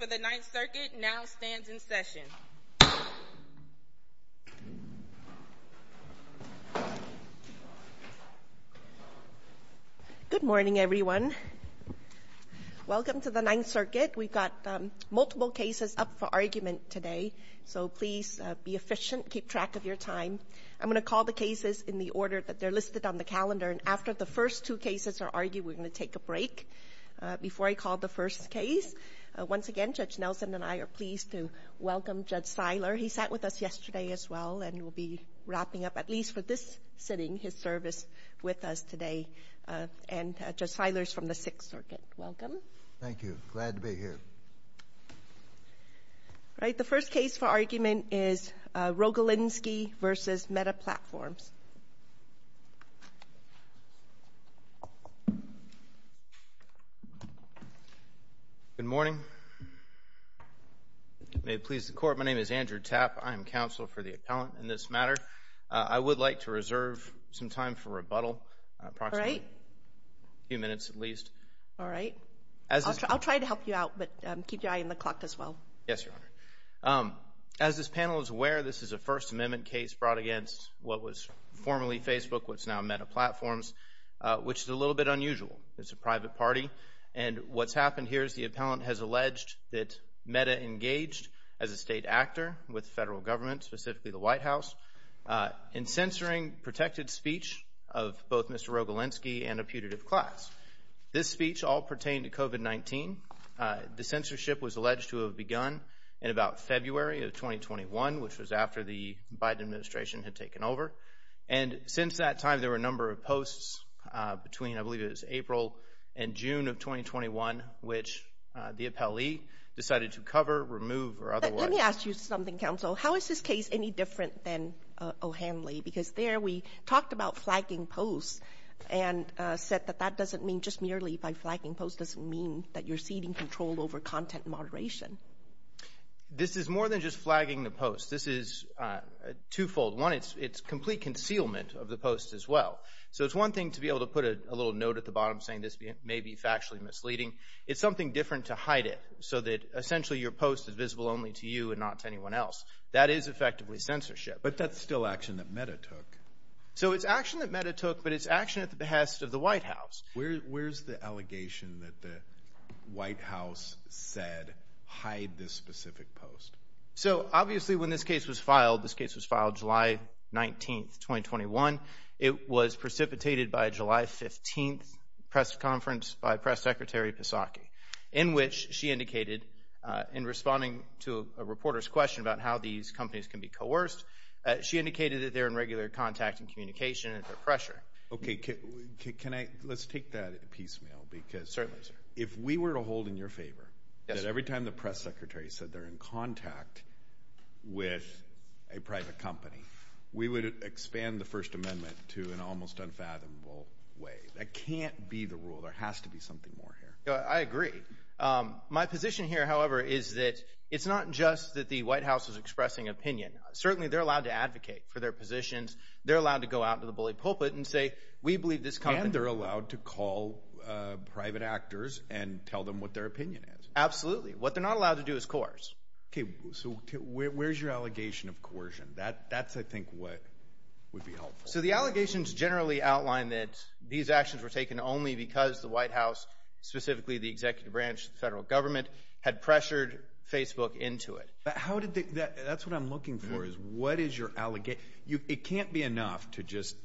Welcome to the 9th Circuit. We've got multiple cases up for argument today, so please be efficient, keep track of your time. I'm going to call the cases in the order that they're listed on the calendar, and after the first two cases are argued, we're going to take a break. Before I call the first case, once again, Judge Nelson and I are pleased to welcome Judge Seiler. He sat with us yesterday as well, and will be wrapping up, at least for this sitting, his service with us today. And Judge Seiler is from the 6th Circuit. Welcome. Thank you. Glad to be here. All right. The first case for argument is Rogalinski v. Meta Platforms. Good morning. May it please the Court, my name is Andrew Tapp. I am counsel for the appellant in this matter. I would like to reserve some time for rebuttal, approximately a few minutes at least. All right. I'll try to help you out, but keep your eye on the clock as well. Yes, Your Honor. As this panel is aware, this is a First Amendment case brought against what was formerly Facebook, what's now Meta Platforms, which is a little bit unusual. It's a private party, and what's happened here is the appellant has alleged that Meta engaged as a state actor with federal government, specifically the White House, in censoring protected speech of both Mr. Rogalinski and a putative class. This speech all pertained to COVID-19. The censorship was alleged to have begun in about February of 2021, which was after the Biden administration had taken over. And since that time, there were a number of posts between, I believe it was April and June of 2021, which the appellee decided to cover, remove, or otherwise... Let me ask you something, counsel. How is this case any different than O'Hanley? Because there we talked about flagging posts and said that that doesn't mean just merely by flagging posts doesn't mean that you're ceding control over content moderation. This is more than just flagging the posts. This is twofold. One, it's complete concealment of the posts as well. So it's one thing to be able to put a little note at the bottom saying this may be factually misleading. It's something different to hide it so that essentially your post is visible only to you and not to anyone else. That is effectively censorship. But that's still action that Meta took. So it's action that Meta took, but it's action at the behest of the White House. Where's the allegation that the White House said hide this specific post? So obviously when this case was filed, this case was filed July 19th, 2021. It was precipitated by a July 15th press conference by Press Secretary Pisachi, in which she indicated in responding to a reporter's question about how these companies can be coerced, she indicated that they're in regular contact and communication and under pressure. Okay. Let's take that piecemeal because if we were to hold in your favor that every time the Press Secretary said they're in contact with a private company, we would expand the First Amendment to an almost unfathomable way. That can't be the rule. There has to be something more here. I agree. My position here, however, is that it's not just that the White House is expressing opinion. Certainly they're allowed to advocate for their positions. They're allowed to go out to the bully pulpit and say, we believe this company... And they're allowed to call private actors and tell them what their opinion is. Absolutely. What they're not allowed to do is coerce. Okay. So where's your allegation of coercion? That's, I think, what would be helpful. So the allegations generally outline that these actions were taken only because the executive branch, the federal government, had pressured Facebook into it. That's what I'm looking for, is what is your allegation? It can't be enough to just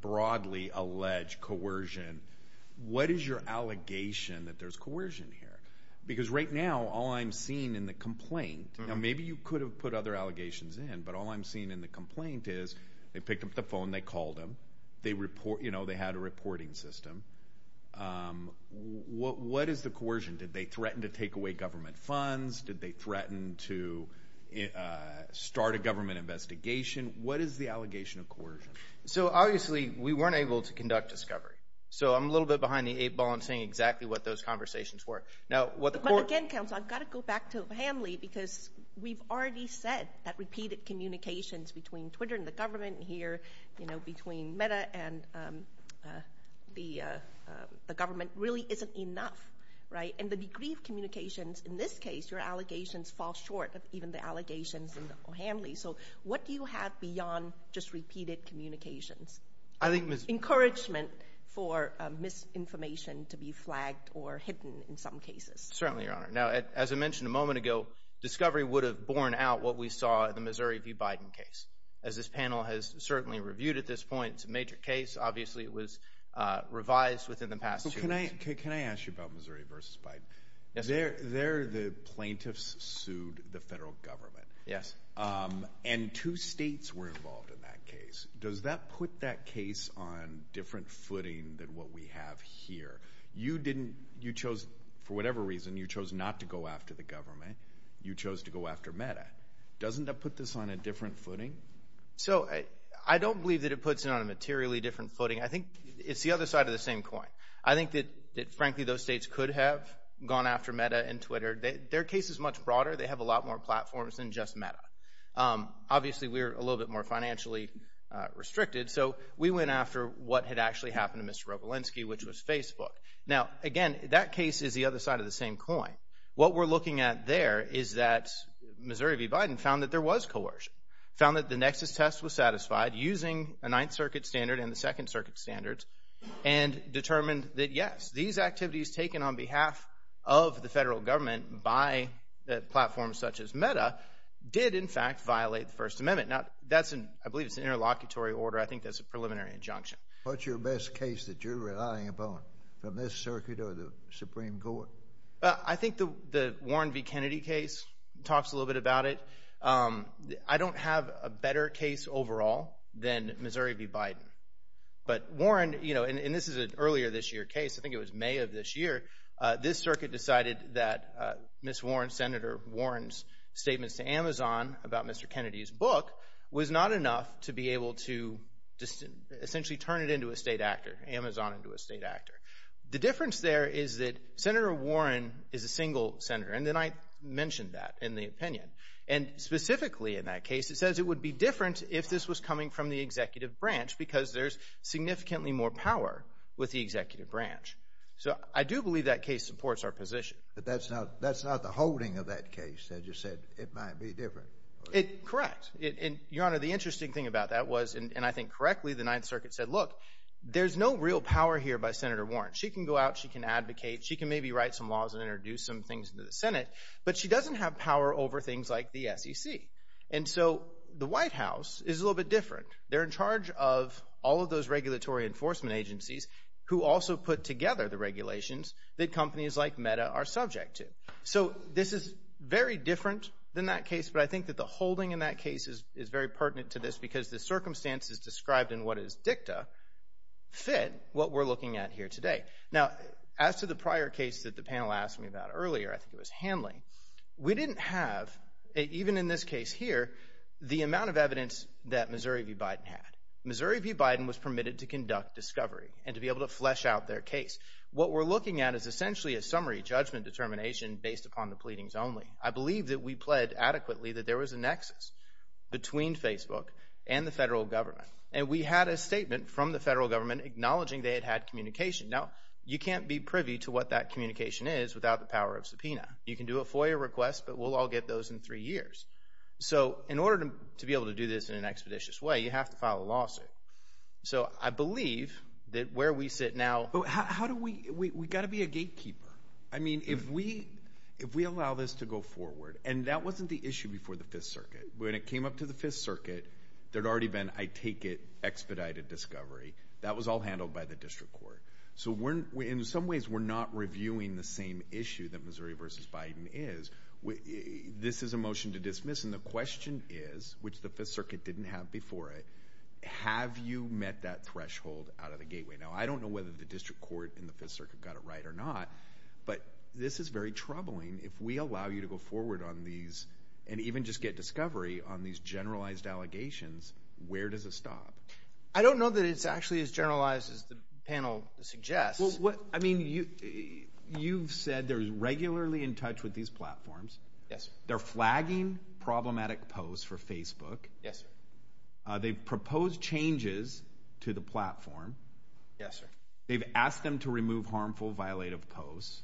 broadly allege coercion. What is your allegation that there's coercion here? Because right now, all I'm seeing in the complaint, and maybe you could have put other allegations in, but all I'm seeing in the complaint is they picked up the phone, they called them, they had a conversation. What is the coercion? Did they threaten to take away government funds? Did they threaten to start a government investigation? What is the allegation of coercion? So obviously, we weren't able to conduct discovery. So I'm a little bit behind the eight ball in saying exactly what those conversations were. But again, counsel, I've got to go back to Hanley, because we've already said that repeated communications between Twitter and the government here, between Meta and the And the degree of communications in this case, your allegations fall short of even the allegations in Hanley. So what do you have beyond just repeated communications? Encouragement for misinformation to be flagged or hidden in some cases. Certainly, Your Honor. Now, as I mentioned a moment ago, discovery would have borne out what we saw in the Missouri v. Biden case. As this panel has certainly reviewed at this point, it's a major case. Obviously, it was revised within the past two weeks. Can I ask you about Missouri v. Biden? Yes, sir. There, the plaintiffs sued the federal government. Yes. And two states were involved in that case. Does that put that case on different footing than what we have here? You chose, for whatever reason, you chose not to go after the government. You chose to go after Meta. Doesn't that put this on a different footing? So I don't believe that it puts it on a materially different footing. I think it's the other side of the same coin. I think that, frankly, those states could have gone after Meta and Twitter. Their case is much broader. They have a lot more platforms than just Meta. Obviously, we're a little bit more financially restricted. So we went after what had actually happened to Mr. Rogolinsky, which was Facebook. Now, again, that case is the other side of the same coin. What we're looking at there is that Missouri v. Biden found that there was coercion, found that the nexus test was satisfied using a second circuit standards, and determined that, yes, these activities taken on behalf of the federal government by platforms such as Meta did, in fact, violate the First Amendment. Now, I believe it's an interlocutory order. I think that's a preliminary injunction. What's your best case that you're relying upon from this circuit or the Supreme Court? I think the Warren v. Kennedy case talks a little bit about it. I don't have a better case overall than Missouri v. Biden. But Warren, and this is an earlier this year case, I think it was May of this year, this circuit decided that Ms. Warren, Senator Warren's statements to Amazon about Mr. Kennedy's book was not enough to be able to essentially turn it into a state actor, Amazon into a state actor. The difference there is that Senator Warren is a single senator, and then I mentioned that in the opinion. And specifically in that case, it says it would be different if this was coming from the executive branch because there's significantly more power with the executive branch. So I do believe that case supports our position. But that's not the holding of that case, as you said. It might be different. Correct. And, Your Honor, the interesting thing about that was, and I think correctly, the Ninth Circuit said, look, there's no real power here by Senator Warren. She can go out, she can advocate, she can maybe write some laws and introduce some things into the Senate, but she doesn't have power over things like the SEC. And so the White House is a little bit different. They're in charge of all of those regulatory enforcement agencies who also put together the regulations that companies like Meta are subject to. So this is very different than that case, but I think that the holding in that case is very pertinent to this because the circumstances described in what is dicta fit what we're looking at here today. Now, as to the prior case that the panel asked me about earlier, I think it was clear enough, even in this case here, the amount of evidence that Missouri v. Biden had. Missouri v. Biden was permitted to conduct discovery and to be able to flesh out their case. What we're looking at is essentially a summary judgment determination based upon the pleadings only. I believe that we pled adequately that there was a nexus between Facebook and the federal government. And we had a statement from the federal government acknowledging they had had communication. Now, you can't be privy to what that communication is without the power of So in order to be able to do this in an expeditious way, you have to file a lawsuit. So I believe that where we sit now, how do we we got to be a gatekeeper? I mean, if we if we allow this to go forward and that wasn't the issue before the Fifth Circuit, when it came up to the Fifth Circuit, there'd already been I take it expedited discovery. That was all handled by the district court. So we're in some ways we're not reviewing the same issue that Missouri v. Biden is. This is a motion to dismiss. And the question is, which the Fifth Circuit didn't have before it, have you met that threshold out of the gateway? Now, I don't know whether the district court in the Fifth Circuit got it right or not, but this is very troubling. If we allow you to go forward on these and even just get discovery on these generalized allegations, where does it stop? I don't know that it's actually as generalized as the panel suggests. Well, I mean, you you've said there's regularly in touch with these platforms. Yes, they're flagging problematic posts for Facebook. Yes, they've proposed changes to the platform. Yes, sir. They've asked them to remove harmful, violative posts.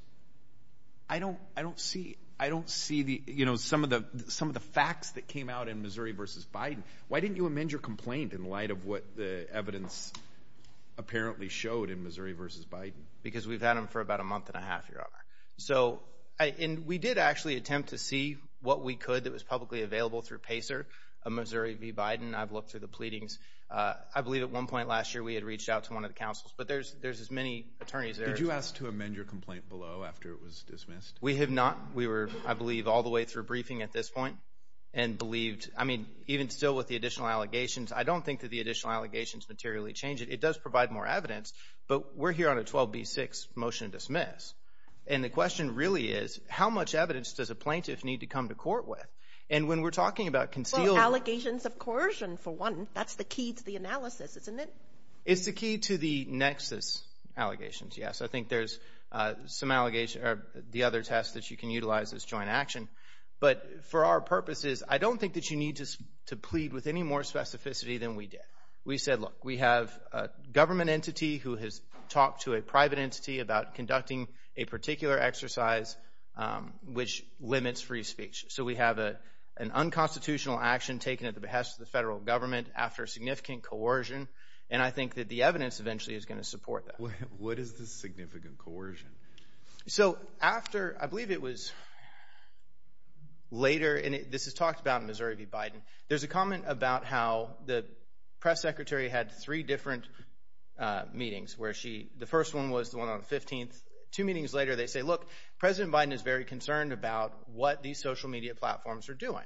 I don't I don't see I don't see the you know, some of the some of the facts that came out in Missouri v. Biden. Why didn't you amend your complaint? Because we've had him for about a month and a half, your honor. So I and we did actually attempt to see what we could that was publicly available through Pacer of Missouri v. Biden. I've looked through the pleadings. I believe at one point last year we had reached out to one of the councils. But there's there's as many attorneys there. Did you ask to amend your complaint below after it was dismissed? We have not. We were, I believe, all the way through briefing at this point and believed. I mean, even still with the additional allegations, I don't think that the additional allegations materially change it. It does provide more evidence. But we're here on a 12 B six motion to dismiss. And the question really is, how much evidence does a plaintiff need to come to court with? And when we're talking about concealed allegations of coercion, for one, that's the key to the analysis, isn't it? It's the key to the nexus allegations. Yes, I think there's some allegations are the other tests that you can utilize this joint action. But for our purposes, I don't think that you need to plead with any more specificity than we did. We said, Look, we have a government entity who has talked to a private entity about conducting a particular exercise which limits free speech. So we have a an unconstitutional action taken at the behest of the federal government after significant coercion. And I think that the evidence eventually is going to support that. What is the significant coercion? So after I believe it was later, and this is talked about Missouri B. Biden. There's a comment about how the press secretary had three different meetings where she the first one was the one on the 15th. Two meetings later, they say, Look, President Biden is very concerned about what these social media platforms are doing.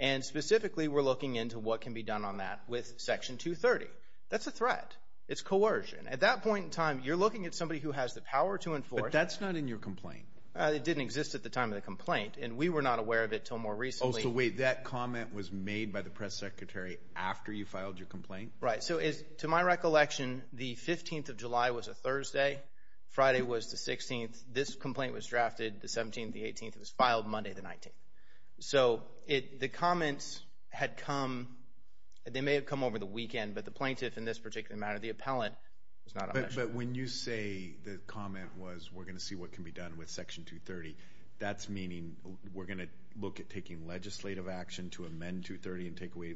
And specifically, we're looking into what can be done on that with Section 230. That's a threat. It's coercion. At that point in time, you're looking at somebody who has the power to enforce. That's not in your complaint. It didn't exist at the time of the complaint, and we were not aware of it till more recently. That comment was made by the press secretary after you filed your complaint, right? So is to my recollection, the 15th of July was a Thursday. Friday was the 16th. This complaint was drafted the 17th. The 18th was filed Monday, the 19th. So it the comments had come. They may have come over the weekend, but the plaintiff in this particular matter, the appellant was not. But when you say the comment was we're going to see what can be done with Section 230, that's meaning we're gonna look at taking legislative action to amend 230 and take away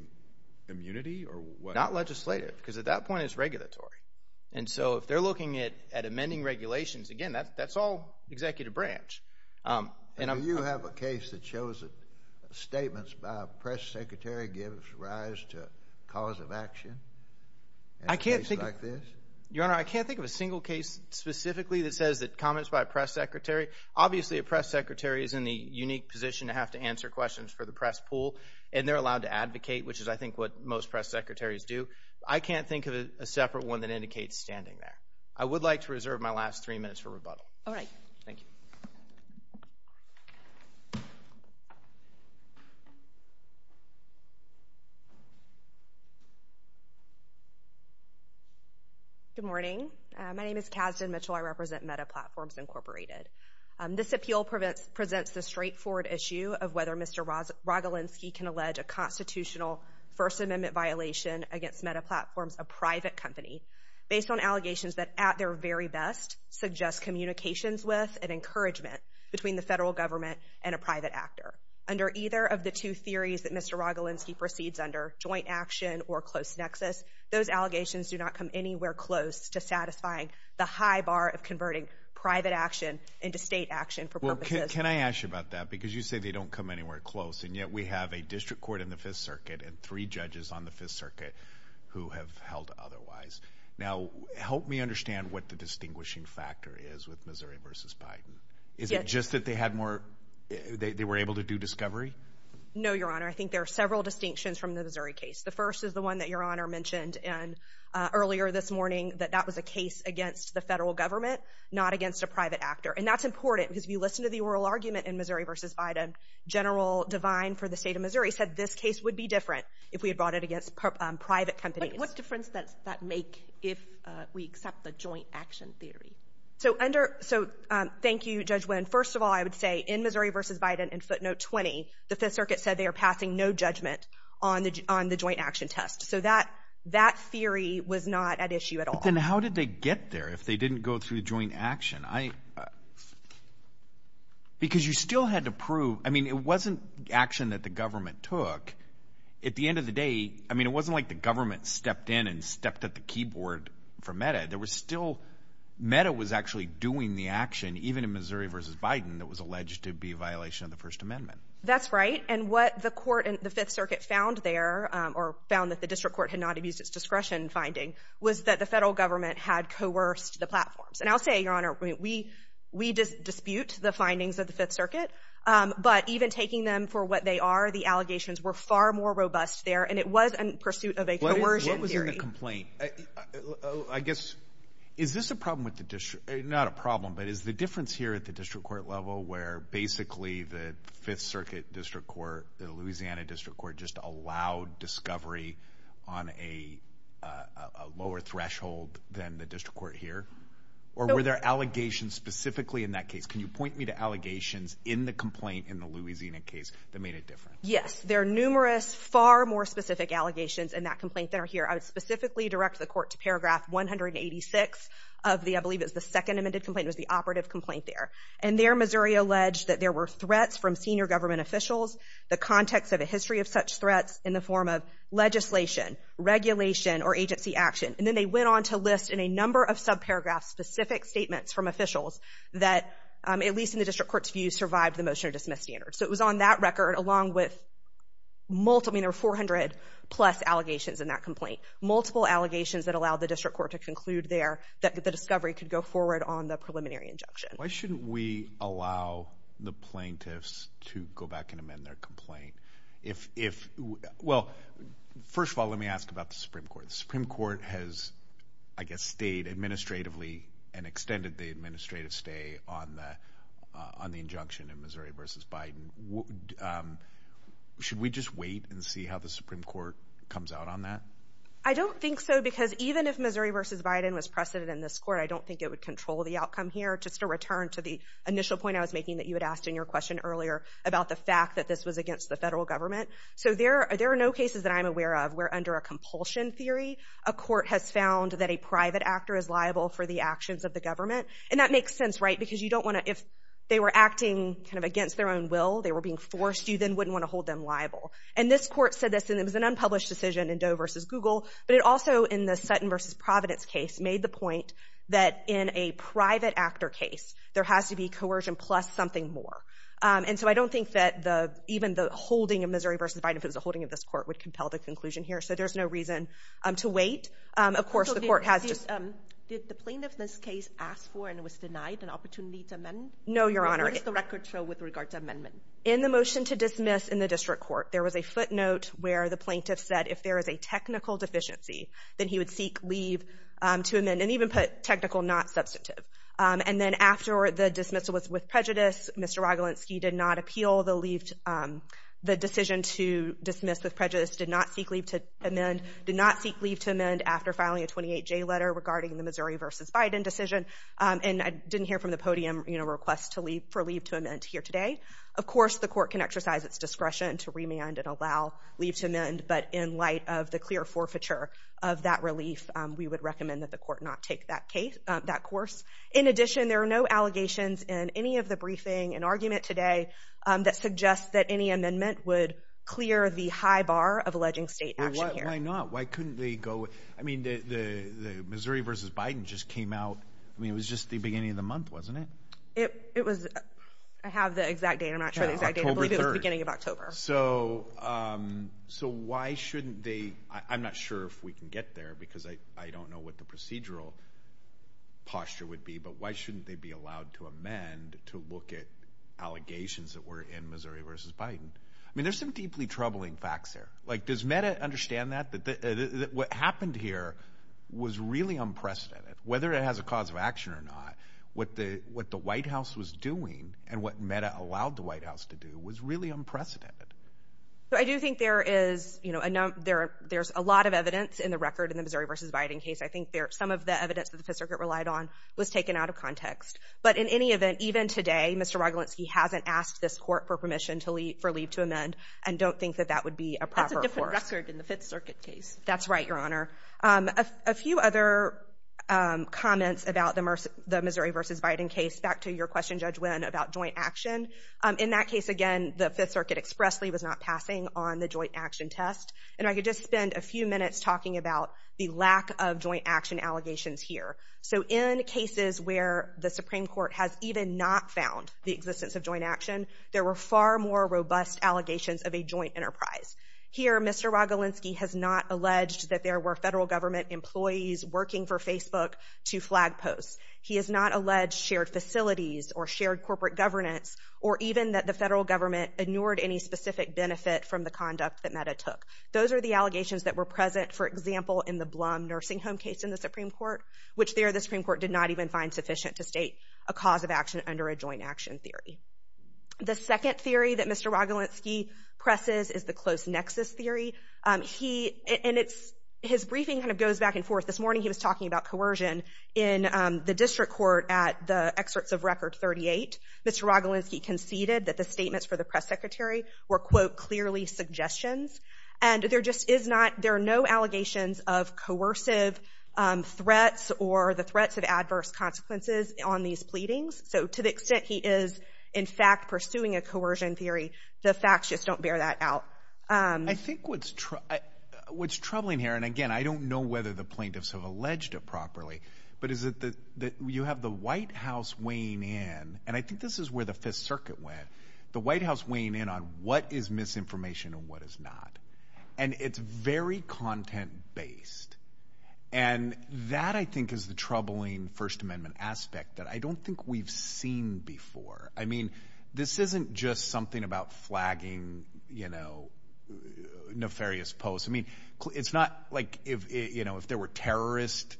immunity or what? Not legislative, because at that point, it's regulatory. And so if they're looking at at amending regulations again, that's that's all executive branch. Um, and you have a case that shows that statements by press secretary gives rise to cause of action. I can't think like this. Your Honor, I can't think of a single case specifically that says that comments by press secretary. Obviously, a press secretary is in the unique position to have to answer questions for the press pool, and they're allowed to advocate, which is, I think, what most press secretaries do. I can't think of a separate one that indicates standing there. I would like to reserve my last three minutes for rebuttal. All right. Thank you. Good morning. My name is Kasdan Mitchell. I represent Meta Platforms Incorporated. This appeal presents the straightforward issue of whether Mr. Rogelinsky can allege a constitutional First Amendment violation against Meta Platforms, a private company, based on allegations that at their very best suggest communications with and encouragement between the federal government and a private actor. Under either of the two theories that Mr. Rogelinsky proceeds under, joint action or close nexus, those allegations do not come anywhere close to satisfying the high bar of converting private action into state action for purposes. Well, can I ask you about that? Because you say they don't come anywhere close, and yet we have a district court in the Fifth Circuit and three judges on the Fifth Circuit who have held otherwise. Now, help me understand what the distinguishing factor is with Missouri v. Biden. Is it just that they had more, they were able to do discovery? No, Your Honor. I think there are several distinctions from the Missouri case. The first is the one that Your Honor mentioned earlier this morning, that that was a case against the federal government, not against a private actor. And that's important, because if you listen to the oral argument in Missouri v. Biden, General Devine for the state of Missouri said this case would be different if we had brought it against private companies. What difference does that make if we accept the joint action theory? So under, so thank you, Judge Wynn. First of all, I would say in Missouri v. Biden in footnote 20, the Fifth Circuit said they are passing no judgment on the joint action test. So that theory was not at issue at all. But then how did they get there if they didn't go through the joint action? Because you still had to prove, I mean, it wasn't action that the government took. At the end of the day, I mean, it wasn't like the government stepped in and stepped at the keyboard for MEDA. There was still, MEDA was actually doing the action, even in Missouri v. Biden, that was alleged to be a violation of the First Amendment. That's right. And what the court in the Fifth Circuit found there, or found that the district court had not abused its discretion finding, was that the federal government had coerced the platforms. And I'll say, Your Honor, we dispute the findings of the Fifth Circuit. But even taking them for what they are, the allegations were far more robust there. And it was in pursuit of a coercion theory. What was in the complaint? I guess, is this a problem with the district, not a problem, but is the difference here at the district court level where basically the Fifth Circuit district court, the Louisiana district court just allowed discovery on a lower threshold than the district court here? Or were there allegations specifically in that case? Can you point me to Yes, there are numerous, far more specific allegations in that complaint that are here. I would specifically direct the court to paragraph 186 of the, I believe it's the second amended complaint, it was the operative complaint there. And there Missouri alleged that there were threats from senior government officials, the context of a history of such threats in the form of legislation, regulation, or agency action. And then they went on to list in a number of subparagraphs specific statements from officials that, at least in the district court's view, survived the motion to dismiss standards. So it was on that record along with multiple, I mean there were 400 plus allegations in that complaint, multiple allegations that allowed the district court to conclude there that the discovery could go forward on the preliminary injunction. Why shouldn't we allow the plaintiffs to go back and amend their complaint? If, well, first of all, let me ask about the Supreme Court. The Supreme Court has, I guess, stayed administratively and extended the Should we just wait and see how the Supreme Court comes out on that? I don't think so because even if Missouri v. Biden was preceded in this court, I don't think it would control the outcome here. Just to return to the initial point I was making that you had asked in your question earlier about the fact that this was against the federal government. So there are no cases that I'm aware of where under a compulsion theory, a court has found that a private actor is liable for the actions of the government. And that makes sense, right? Because you don't want to, if they were acting kind of on their own will, they were being forced, you then wouldn't want to hold them liable. And this court said this, and it was an unpublished decision in Doe v. Google, but it also in the Sutton v. Providence case made the point that in a private actor case, there has to be coercion plus something more. And so I don't think that even the holding of Missouri v. Biden, if it was a holding of this court, would compel the conclusion here. So there's no reason to wait. Of course, the court has just Did the plaintiff in this case ask for and was denied an opportunity to amend? No, Your Honor. What does the record show with regard to amendment? In the motion to dismiss in the district court, there was a footnote where the plaintiff said if there is a technical deficiency, then he would seek leave to amend and even put technical, not substantive. And then after the dismissal was with prejudice, Mr. Rogolinsky did not appeal the decision to dismiss with prejudice, did not seek leave to amend, did not seek leave to amend after filing a 28-J letter regarding the Missouri v. Biden decision. And I didn't hear from the podium requests for leave to amend here today. Of course, the court can exercise its discretion to remand and allow leave to amend, but in light of the clear forfeiture of that relief, we would recommend that the court not take that case, that course. In addition, there are no allegations in any of the briefing and argument today that suggests that any amendment would clear the high bar of alleging state action here. Why not? Why couldn't they go? I mean, the Missouri v. Biden just came out I mean, it was just the beginning of the month, wasn't it? It was, I have the exact date. I'm not sure the exact date. October 3rd. I believe it was the beginning of October. So why shouldn't they, I'm not sure if we can get there because I don't know what the procedural posture would be, but why shouldn't they be allowed to amend to look at allegations that were in Missouri v. Biden? I mean, there's some deeply troubling facts there. Like, does Meta understand that? What happened here was really unprecedented. Whether it has a cause of action or not, what the White House was doing and what Meta allowed the White House to do was really unprecedented. I do think there is, you know, there's a lot of evidence in the record in the Missouri v. Biden case. I think some of the evidence that the Fifth Circuit relied on was taken out of context. But in any event, even today, Mr. Rogolinski hasn't asked this court for permission for leave to amend and don't think that that would be a proper force. That's a different record in the Fifth Circuit case. That's right, Your Honor. A few other comments about the Missouri v. Biden case. Back to your question, Judge Wynn, about joint action. In that case, again, the Fifth Circuit expressly was not passing on the joint action test. And I could just spend a few minutes talking about the lack of joint action allegations here. So in cases where the Supreme Court has even not found the existence of joint action, there were far more robust allegations of a joint enterprise. Here, Mr. Rogolinski has not alleged that there were federal government employees working for Facebook to flag posts. He has not alleged shared facilities or shared corporate governance or even that the federal government inured any specific benefit from the conduct that Meta took. Those are the allegations that were present, for example, in the Blum nursing home case in the Supreme Court, which there, the Supreme Court did not even find sufficient to state a cause of action under a joint action theory. The second theory that Mr. Rogolinski presses is the close nexus theory. And his briefing kind of goes back and forth. This morning he was talking about coercion in the district court at the excerpts of Record 38. Mr. Rogolinski conceded that the statements for the press secretary were, quote, clearly suggestions. And there just is not, there are no allegations of coercive threats or the threats of adverse consequences on these pleadings. So to the extent he is, in fact, pursuing a coercion theory, the facts just don't bear that out. I think what's troubling here, and again, I don't know whether the plaintiffs have alleged it properly, but is that you have the White House weighing in, and I think this is where the Fifth Circuit went, the White House weighing in on what is misinformation and what is not. And it's very content-based. And that, I think, is the troubling First Amendment aspect that I don't think we've seen before. I mean, this isn't just something about flagging nefarious posts. It's not like if there were terrorist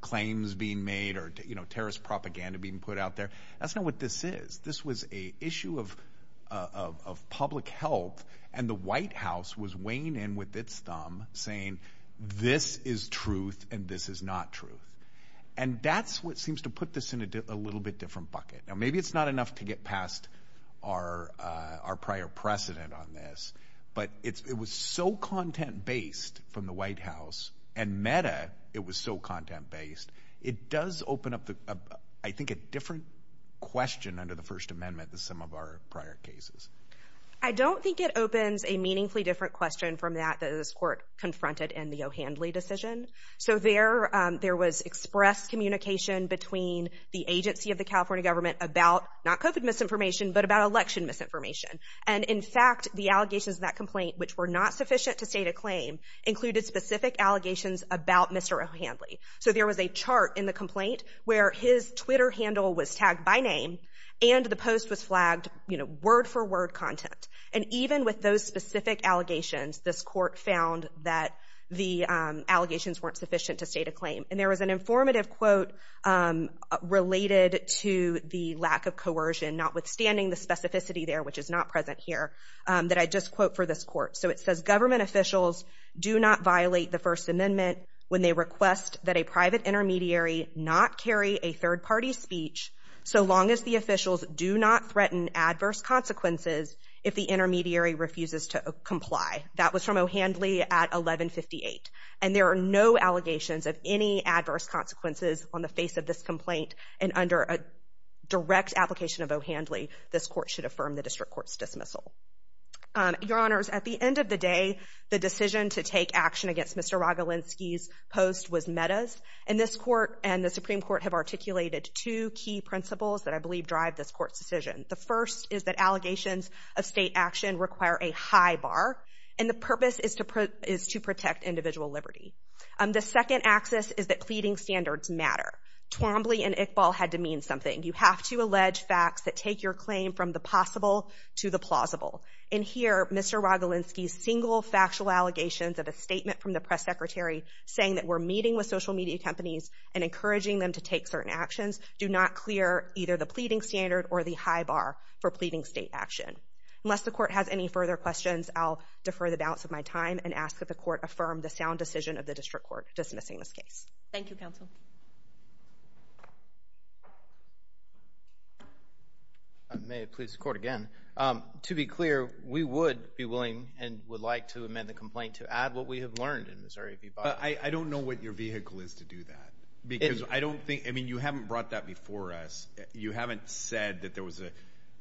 claims being made or terrorist propaganda being put out there. That's not what this is. This was an issue of public health, and the White House was weighing in with its thumb, saying this is truth and this is not truth. And that's what seems to put this in a little bit different bucket. Now, maybe it's not enough to get past our prior precedent on this, but it was so content-based from the White House, and meta it was so content-based, it does open up, I think, a different question under the First Amendment than some of our prior cases. I don't think it opens a meaningfully different question from that that this court confronted in the O'Handley decision. So there was expressed communication between the agency of the California government about, not COVID misinformation, but about election misinformation. And in fact, the allegations in that complaint, which were not sufficient to state a claim, included specific allegations about Mr. O'Handley. So there was a chart in the complaint where his Twitter handle was tagged by name, and the post was flagged, you know, word-for-word content. And even with those specific allegations, this court found that the allegations weren't sufficient to state a claim. And there was an informative quote related to the lack of coercion, notwithstanding the specificity there, which is not present here, that I just quote for this court. So it says, government officials do not violate the First Amendment when they request that a private intermediary not carry a third-party speech so long as the officials do not threaten adverse consequences if the intermediary refuses to comply. That was from O'Handley at 1158. And there are no allegations of any adverse consequences on the face of this complaint. And under a direct application of O'Handley, this court should affirm the district court's dismissal. Your Honors, at the end of the day, the decision to take action against Mr. Rogolinsky's post was Mehta's. And this court and the Supreme Court have articulated two key principles that I believe drive this court's decision. The first is that allegations of state action require a high bar, and the purpose is to protect individual liberty. The second axis is that pleading standards matter. Twombly and Iqbal had to mean something. You have to allege facts that take your claim from the possible to the plausible. And here, Mr. Rogolinsky's single factual allegations of a statement from the press secretary saying that we're meeting with social media companies and encouraging them to take certain actions do not clear either the pleading standard or the high bar for pleading state action. Unless the court has any further questions, I'll defer the balance of my time and ask that the court affirm the sound decision of the district court dismissing this case. Thank you, counsel. May it please the court again. To be clear, we would be willing and would like to amend the complaint to add what we have learned in Missouri v. Boston. I don't know what your vehicle is to do that. I mean, you haven't brought that before us. You haven't said that there was an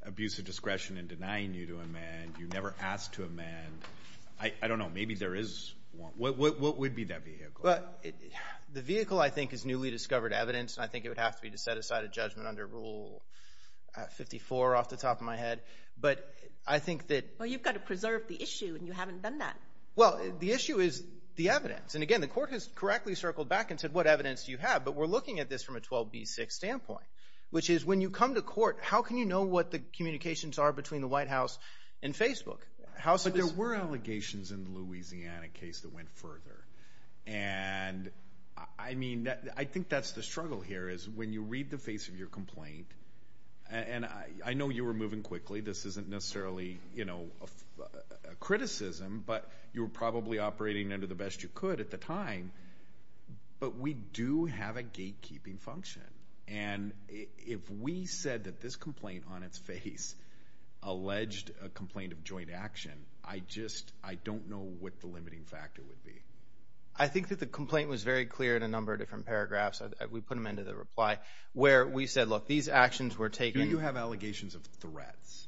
abuse of discretion in denying you to amend. You never asked to amend. I don't know. Maybe there is one. What would be that vehicle? The vehicle, I think, is newly discovered evidence, and I think it would have to be to set aside a judgment under Rule 54 off the top of my head. But I think that— Well, you've got to preserve the issue, and you haven't done that. Well, the issue is the evidence. And again, the court has correctly circled back and said, What evidence do you have? But we're looking at this from a 12B6 standpoint, which is when you come to court, how can you know what the communications are between the White House and Facebook? But there were allegations in the Louisiana case that went further, and I mean, I think that's the struggle here is when you read the face of your complaint, and I know you were moving quickly. This isn't necessarily a criticism, but you were probably operating under the best you could at the time. But we do have a gatekeeping function, and if we said that this complaint on its face alleged a complaint of joint action, I just don't know what the limiting factor would be. I think that the complaint was very clear in a number of different paragraphs. We put them into the reply, where we said, Look, these actions were taken— Do you have allegations of threats?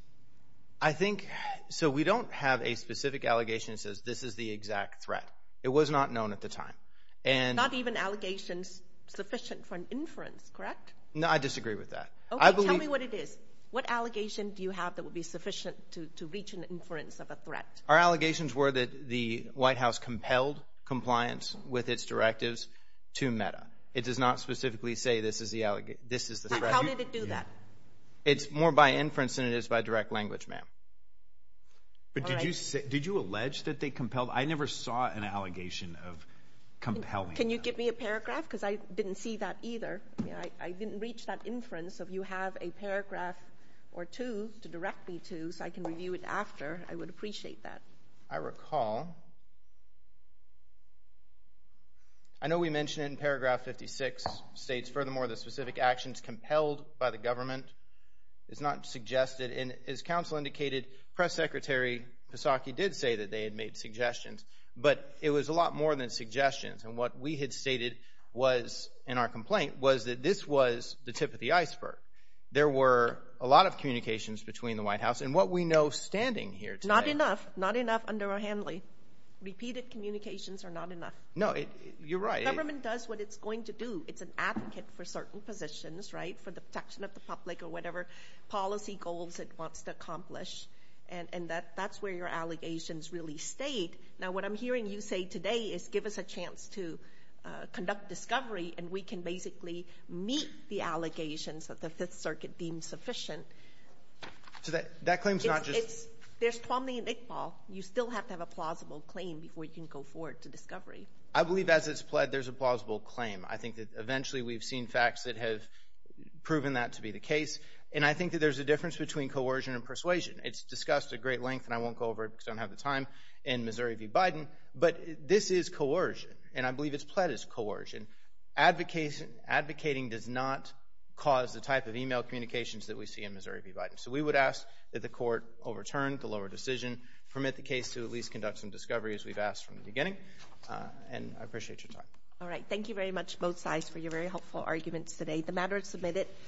I think—so we don't have a specific allegation that says this is the exact threat. It was not known at the time. Not even allegations sufficient for an inference, correct? No, I disagree with that. Okay, tell me what it is. to reach an inference of a threat. Our allegations were that the White House compelled compliance with its directives to META. It does not specifically say this is the threat. How did it do that? It's more by inference than it is by direct language, ma'am. But did you allege that they compelled—I never saw an allegation of compelling them. Can you give me a paragraph? Because I didn't see that either. I didn't reach that inference. If you have a paragraph or two to direct me to so I can review it after, I would appreciate that. I recall. I know we mentioned it in paragraph 56. It states, Furthermore, the specific actions compelled by the government is not suggested. And as counsel indicated, Press Secretary Psaki did say that they had made suggestions. But it was a lot more than suggestions. And what we had stated was in our complaint was that this was the tip of the iceberg. There were a lot of communications between the White House. And what we know standing here today— Not enough. Not enough under our handling. Repeated communications are not enough. No, you're right. The government does what it's going to do. It's an advocate for certain positions, right, for the protection of the public or whatever policy goals it wants to accomplish. And that's where your allegations really stayed. Now, what I'm hearing you say today is give us a chance to conduct discovery, and we can basically meet the allegations that the Fifth Circuit deemed sufficient. So that claim is not just— There's Tuomly and Iqbal. You still have to have a plausible claim before you can go forward to discovery. I believe as it's pled, there's a plausible claim. I think that eventually we've seen facts that have proven that to be the case. And I think that there's a difference between coercion and persuasion. It's discussed at great length, and I won't go over it because I don't have the time, in Missouri v. Biden. But this is coercion, and I believe it's pled is coercion. Advocating does not cause the type of email communications that we see in Missouri v. Biden. So we would ask that the court overturn the lower decision, permit the case to at least conduct some discovery, as we've asked from the beginning. And I appreciate your time. All right. Thank you very much, both sides, for your very helpful arguments today. The matter is submitted.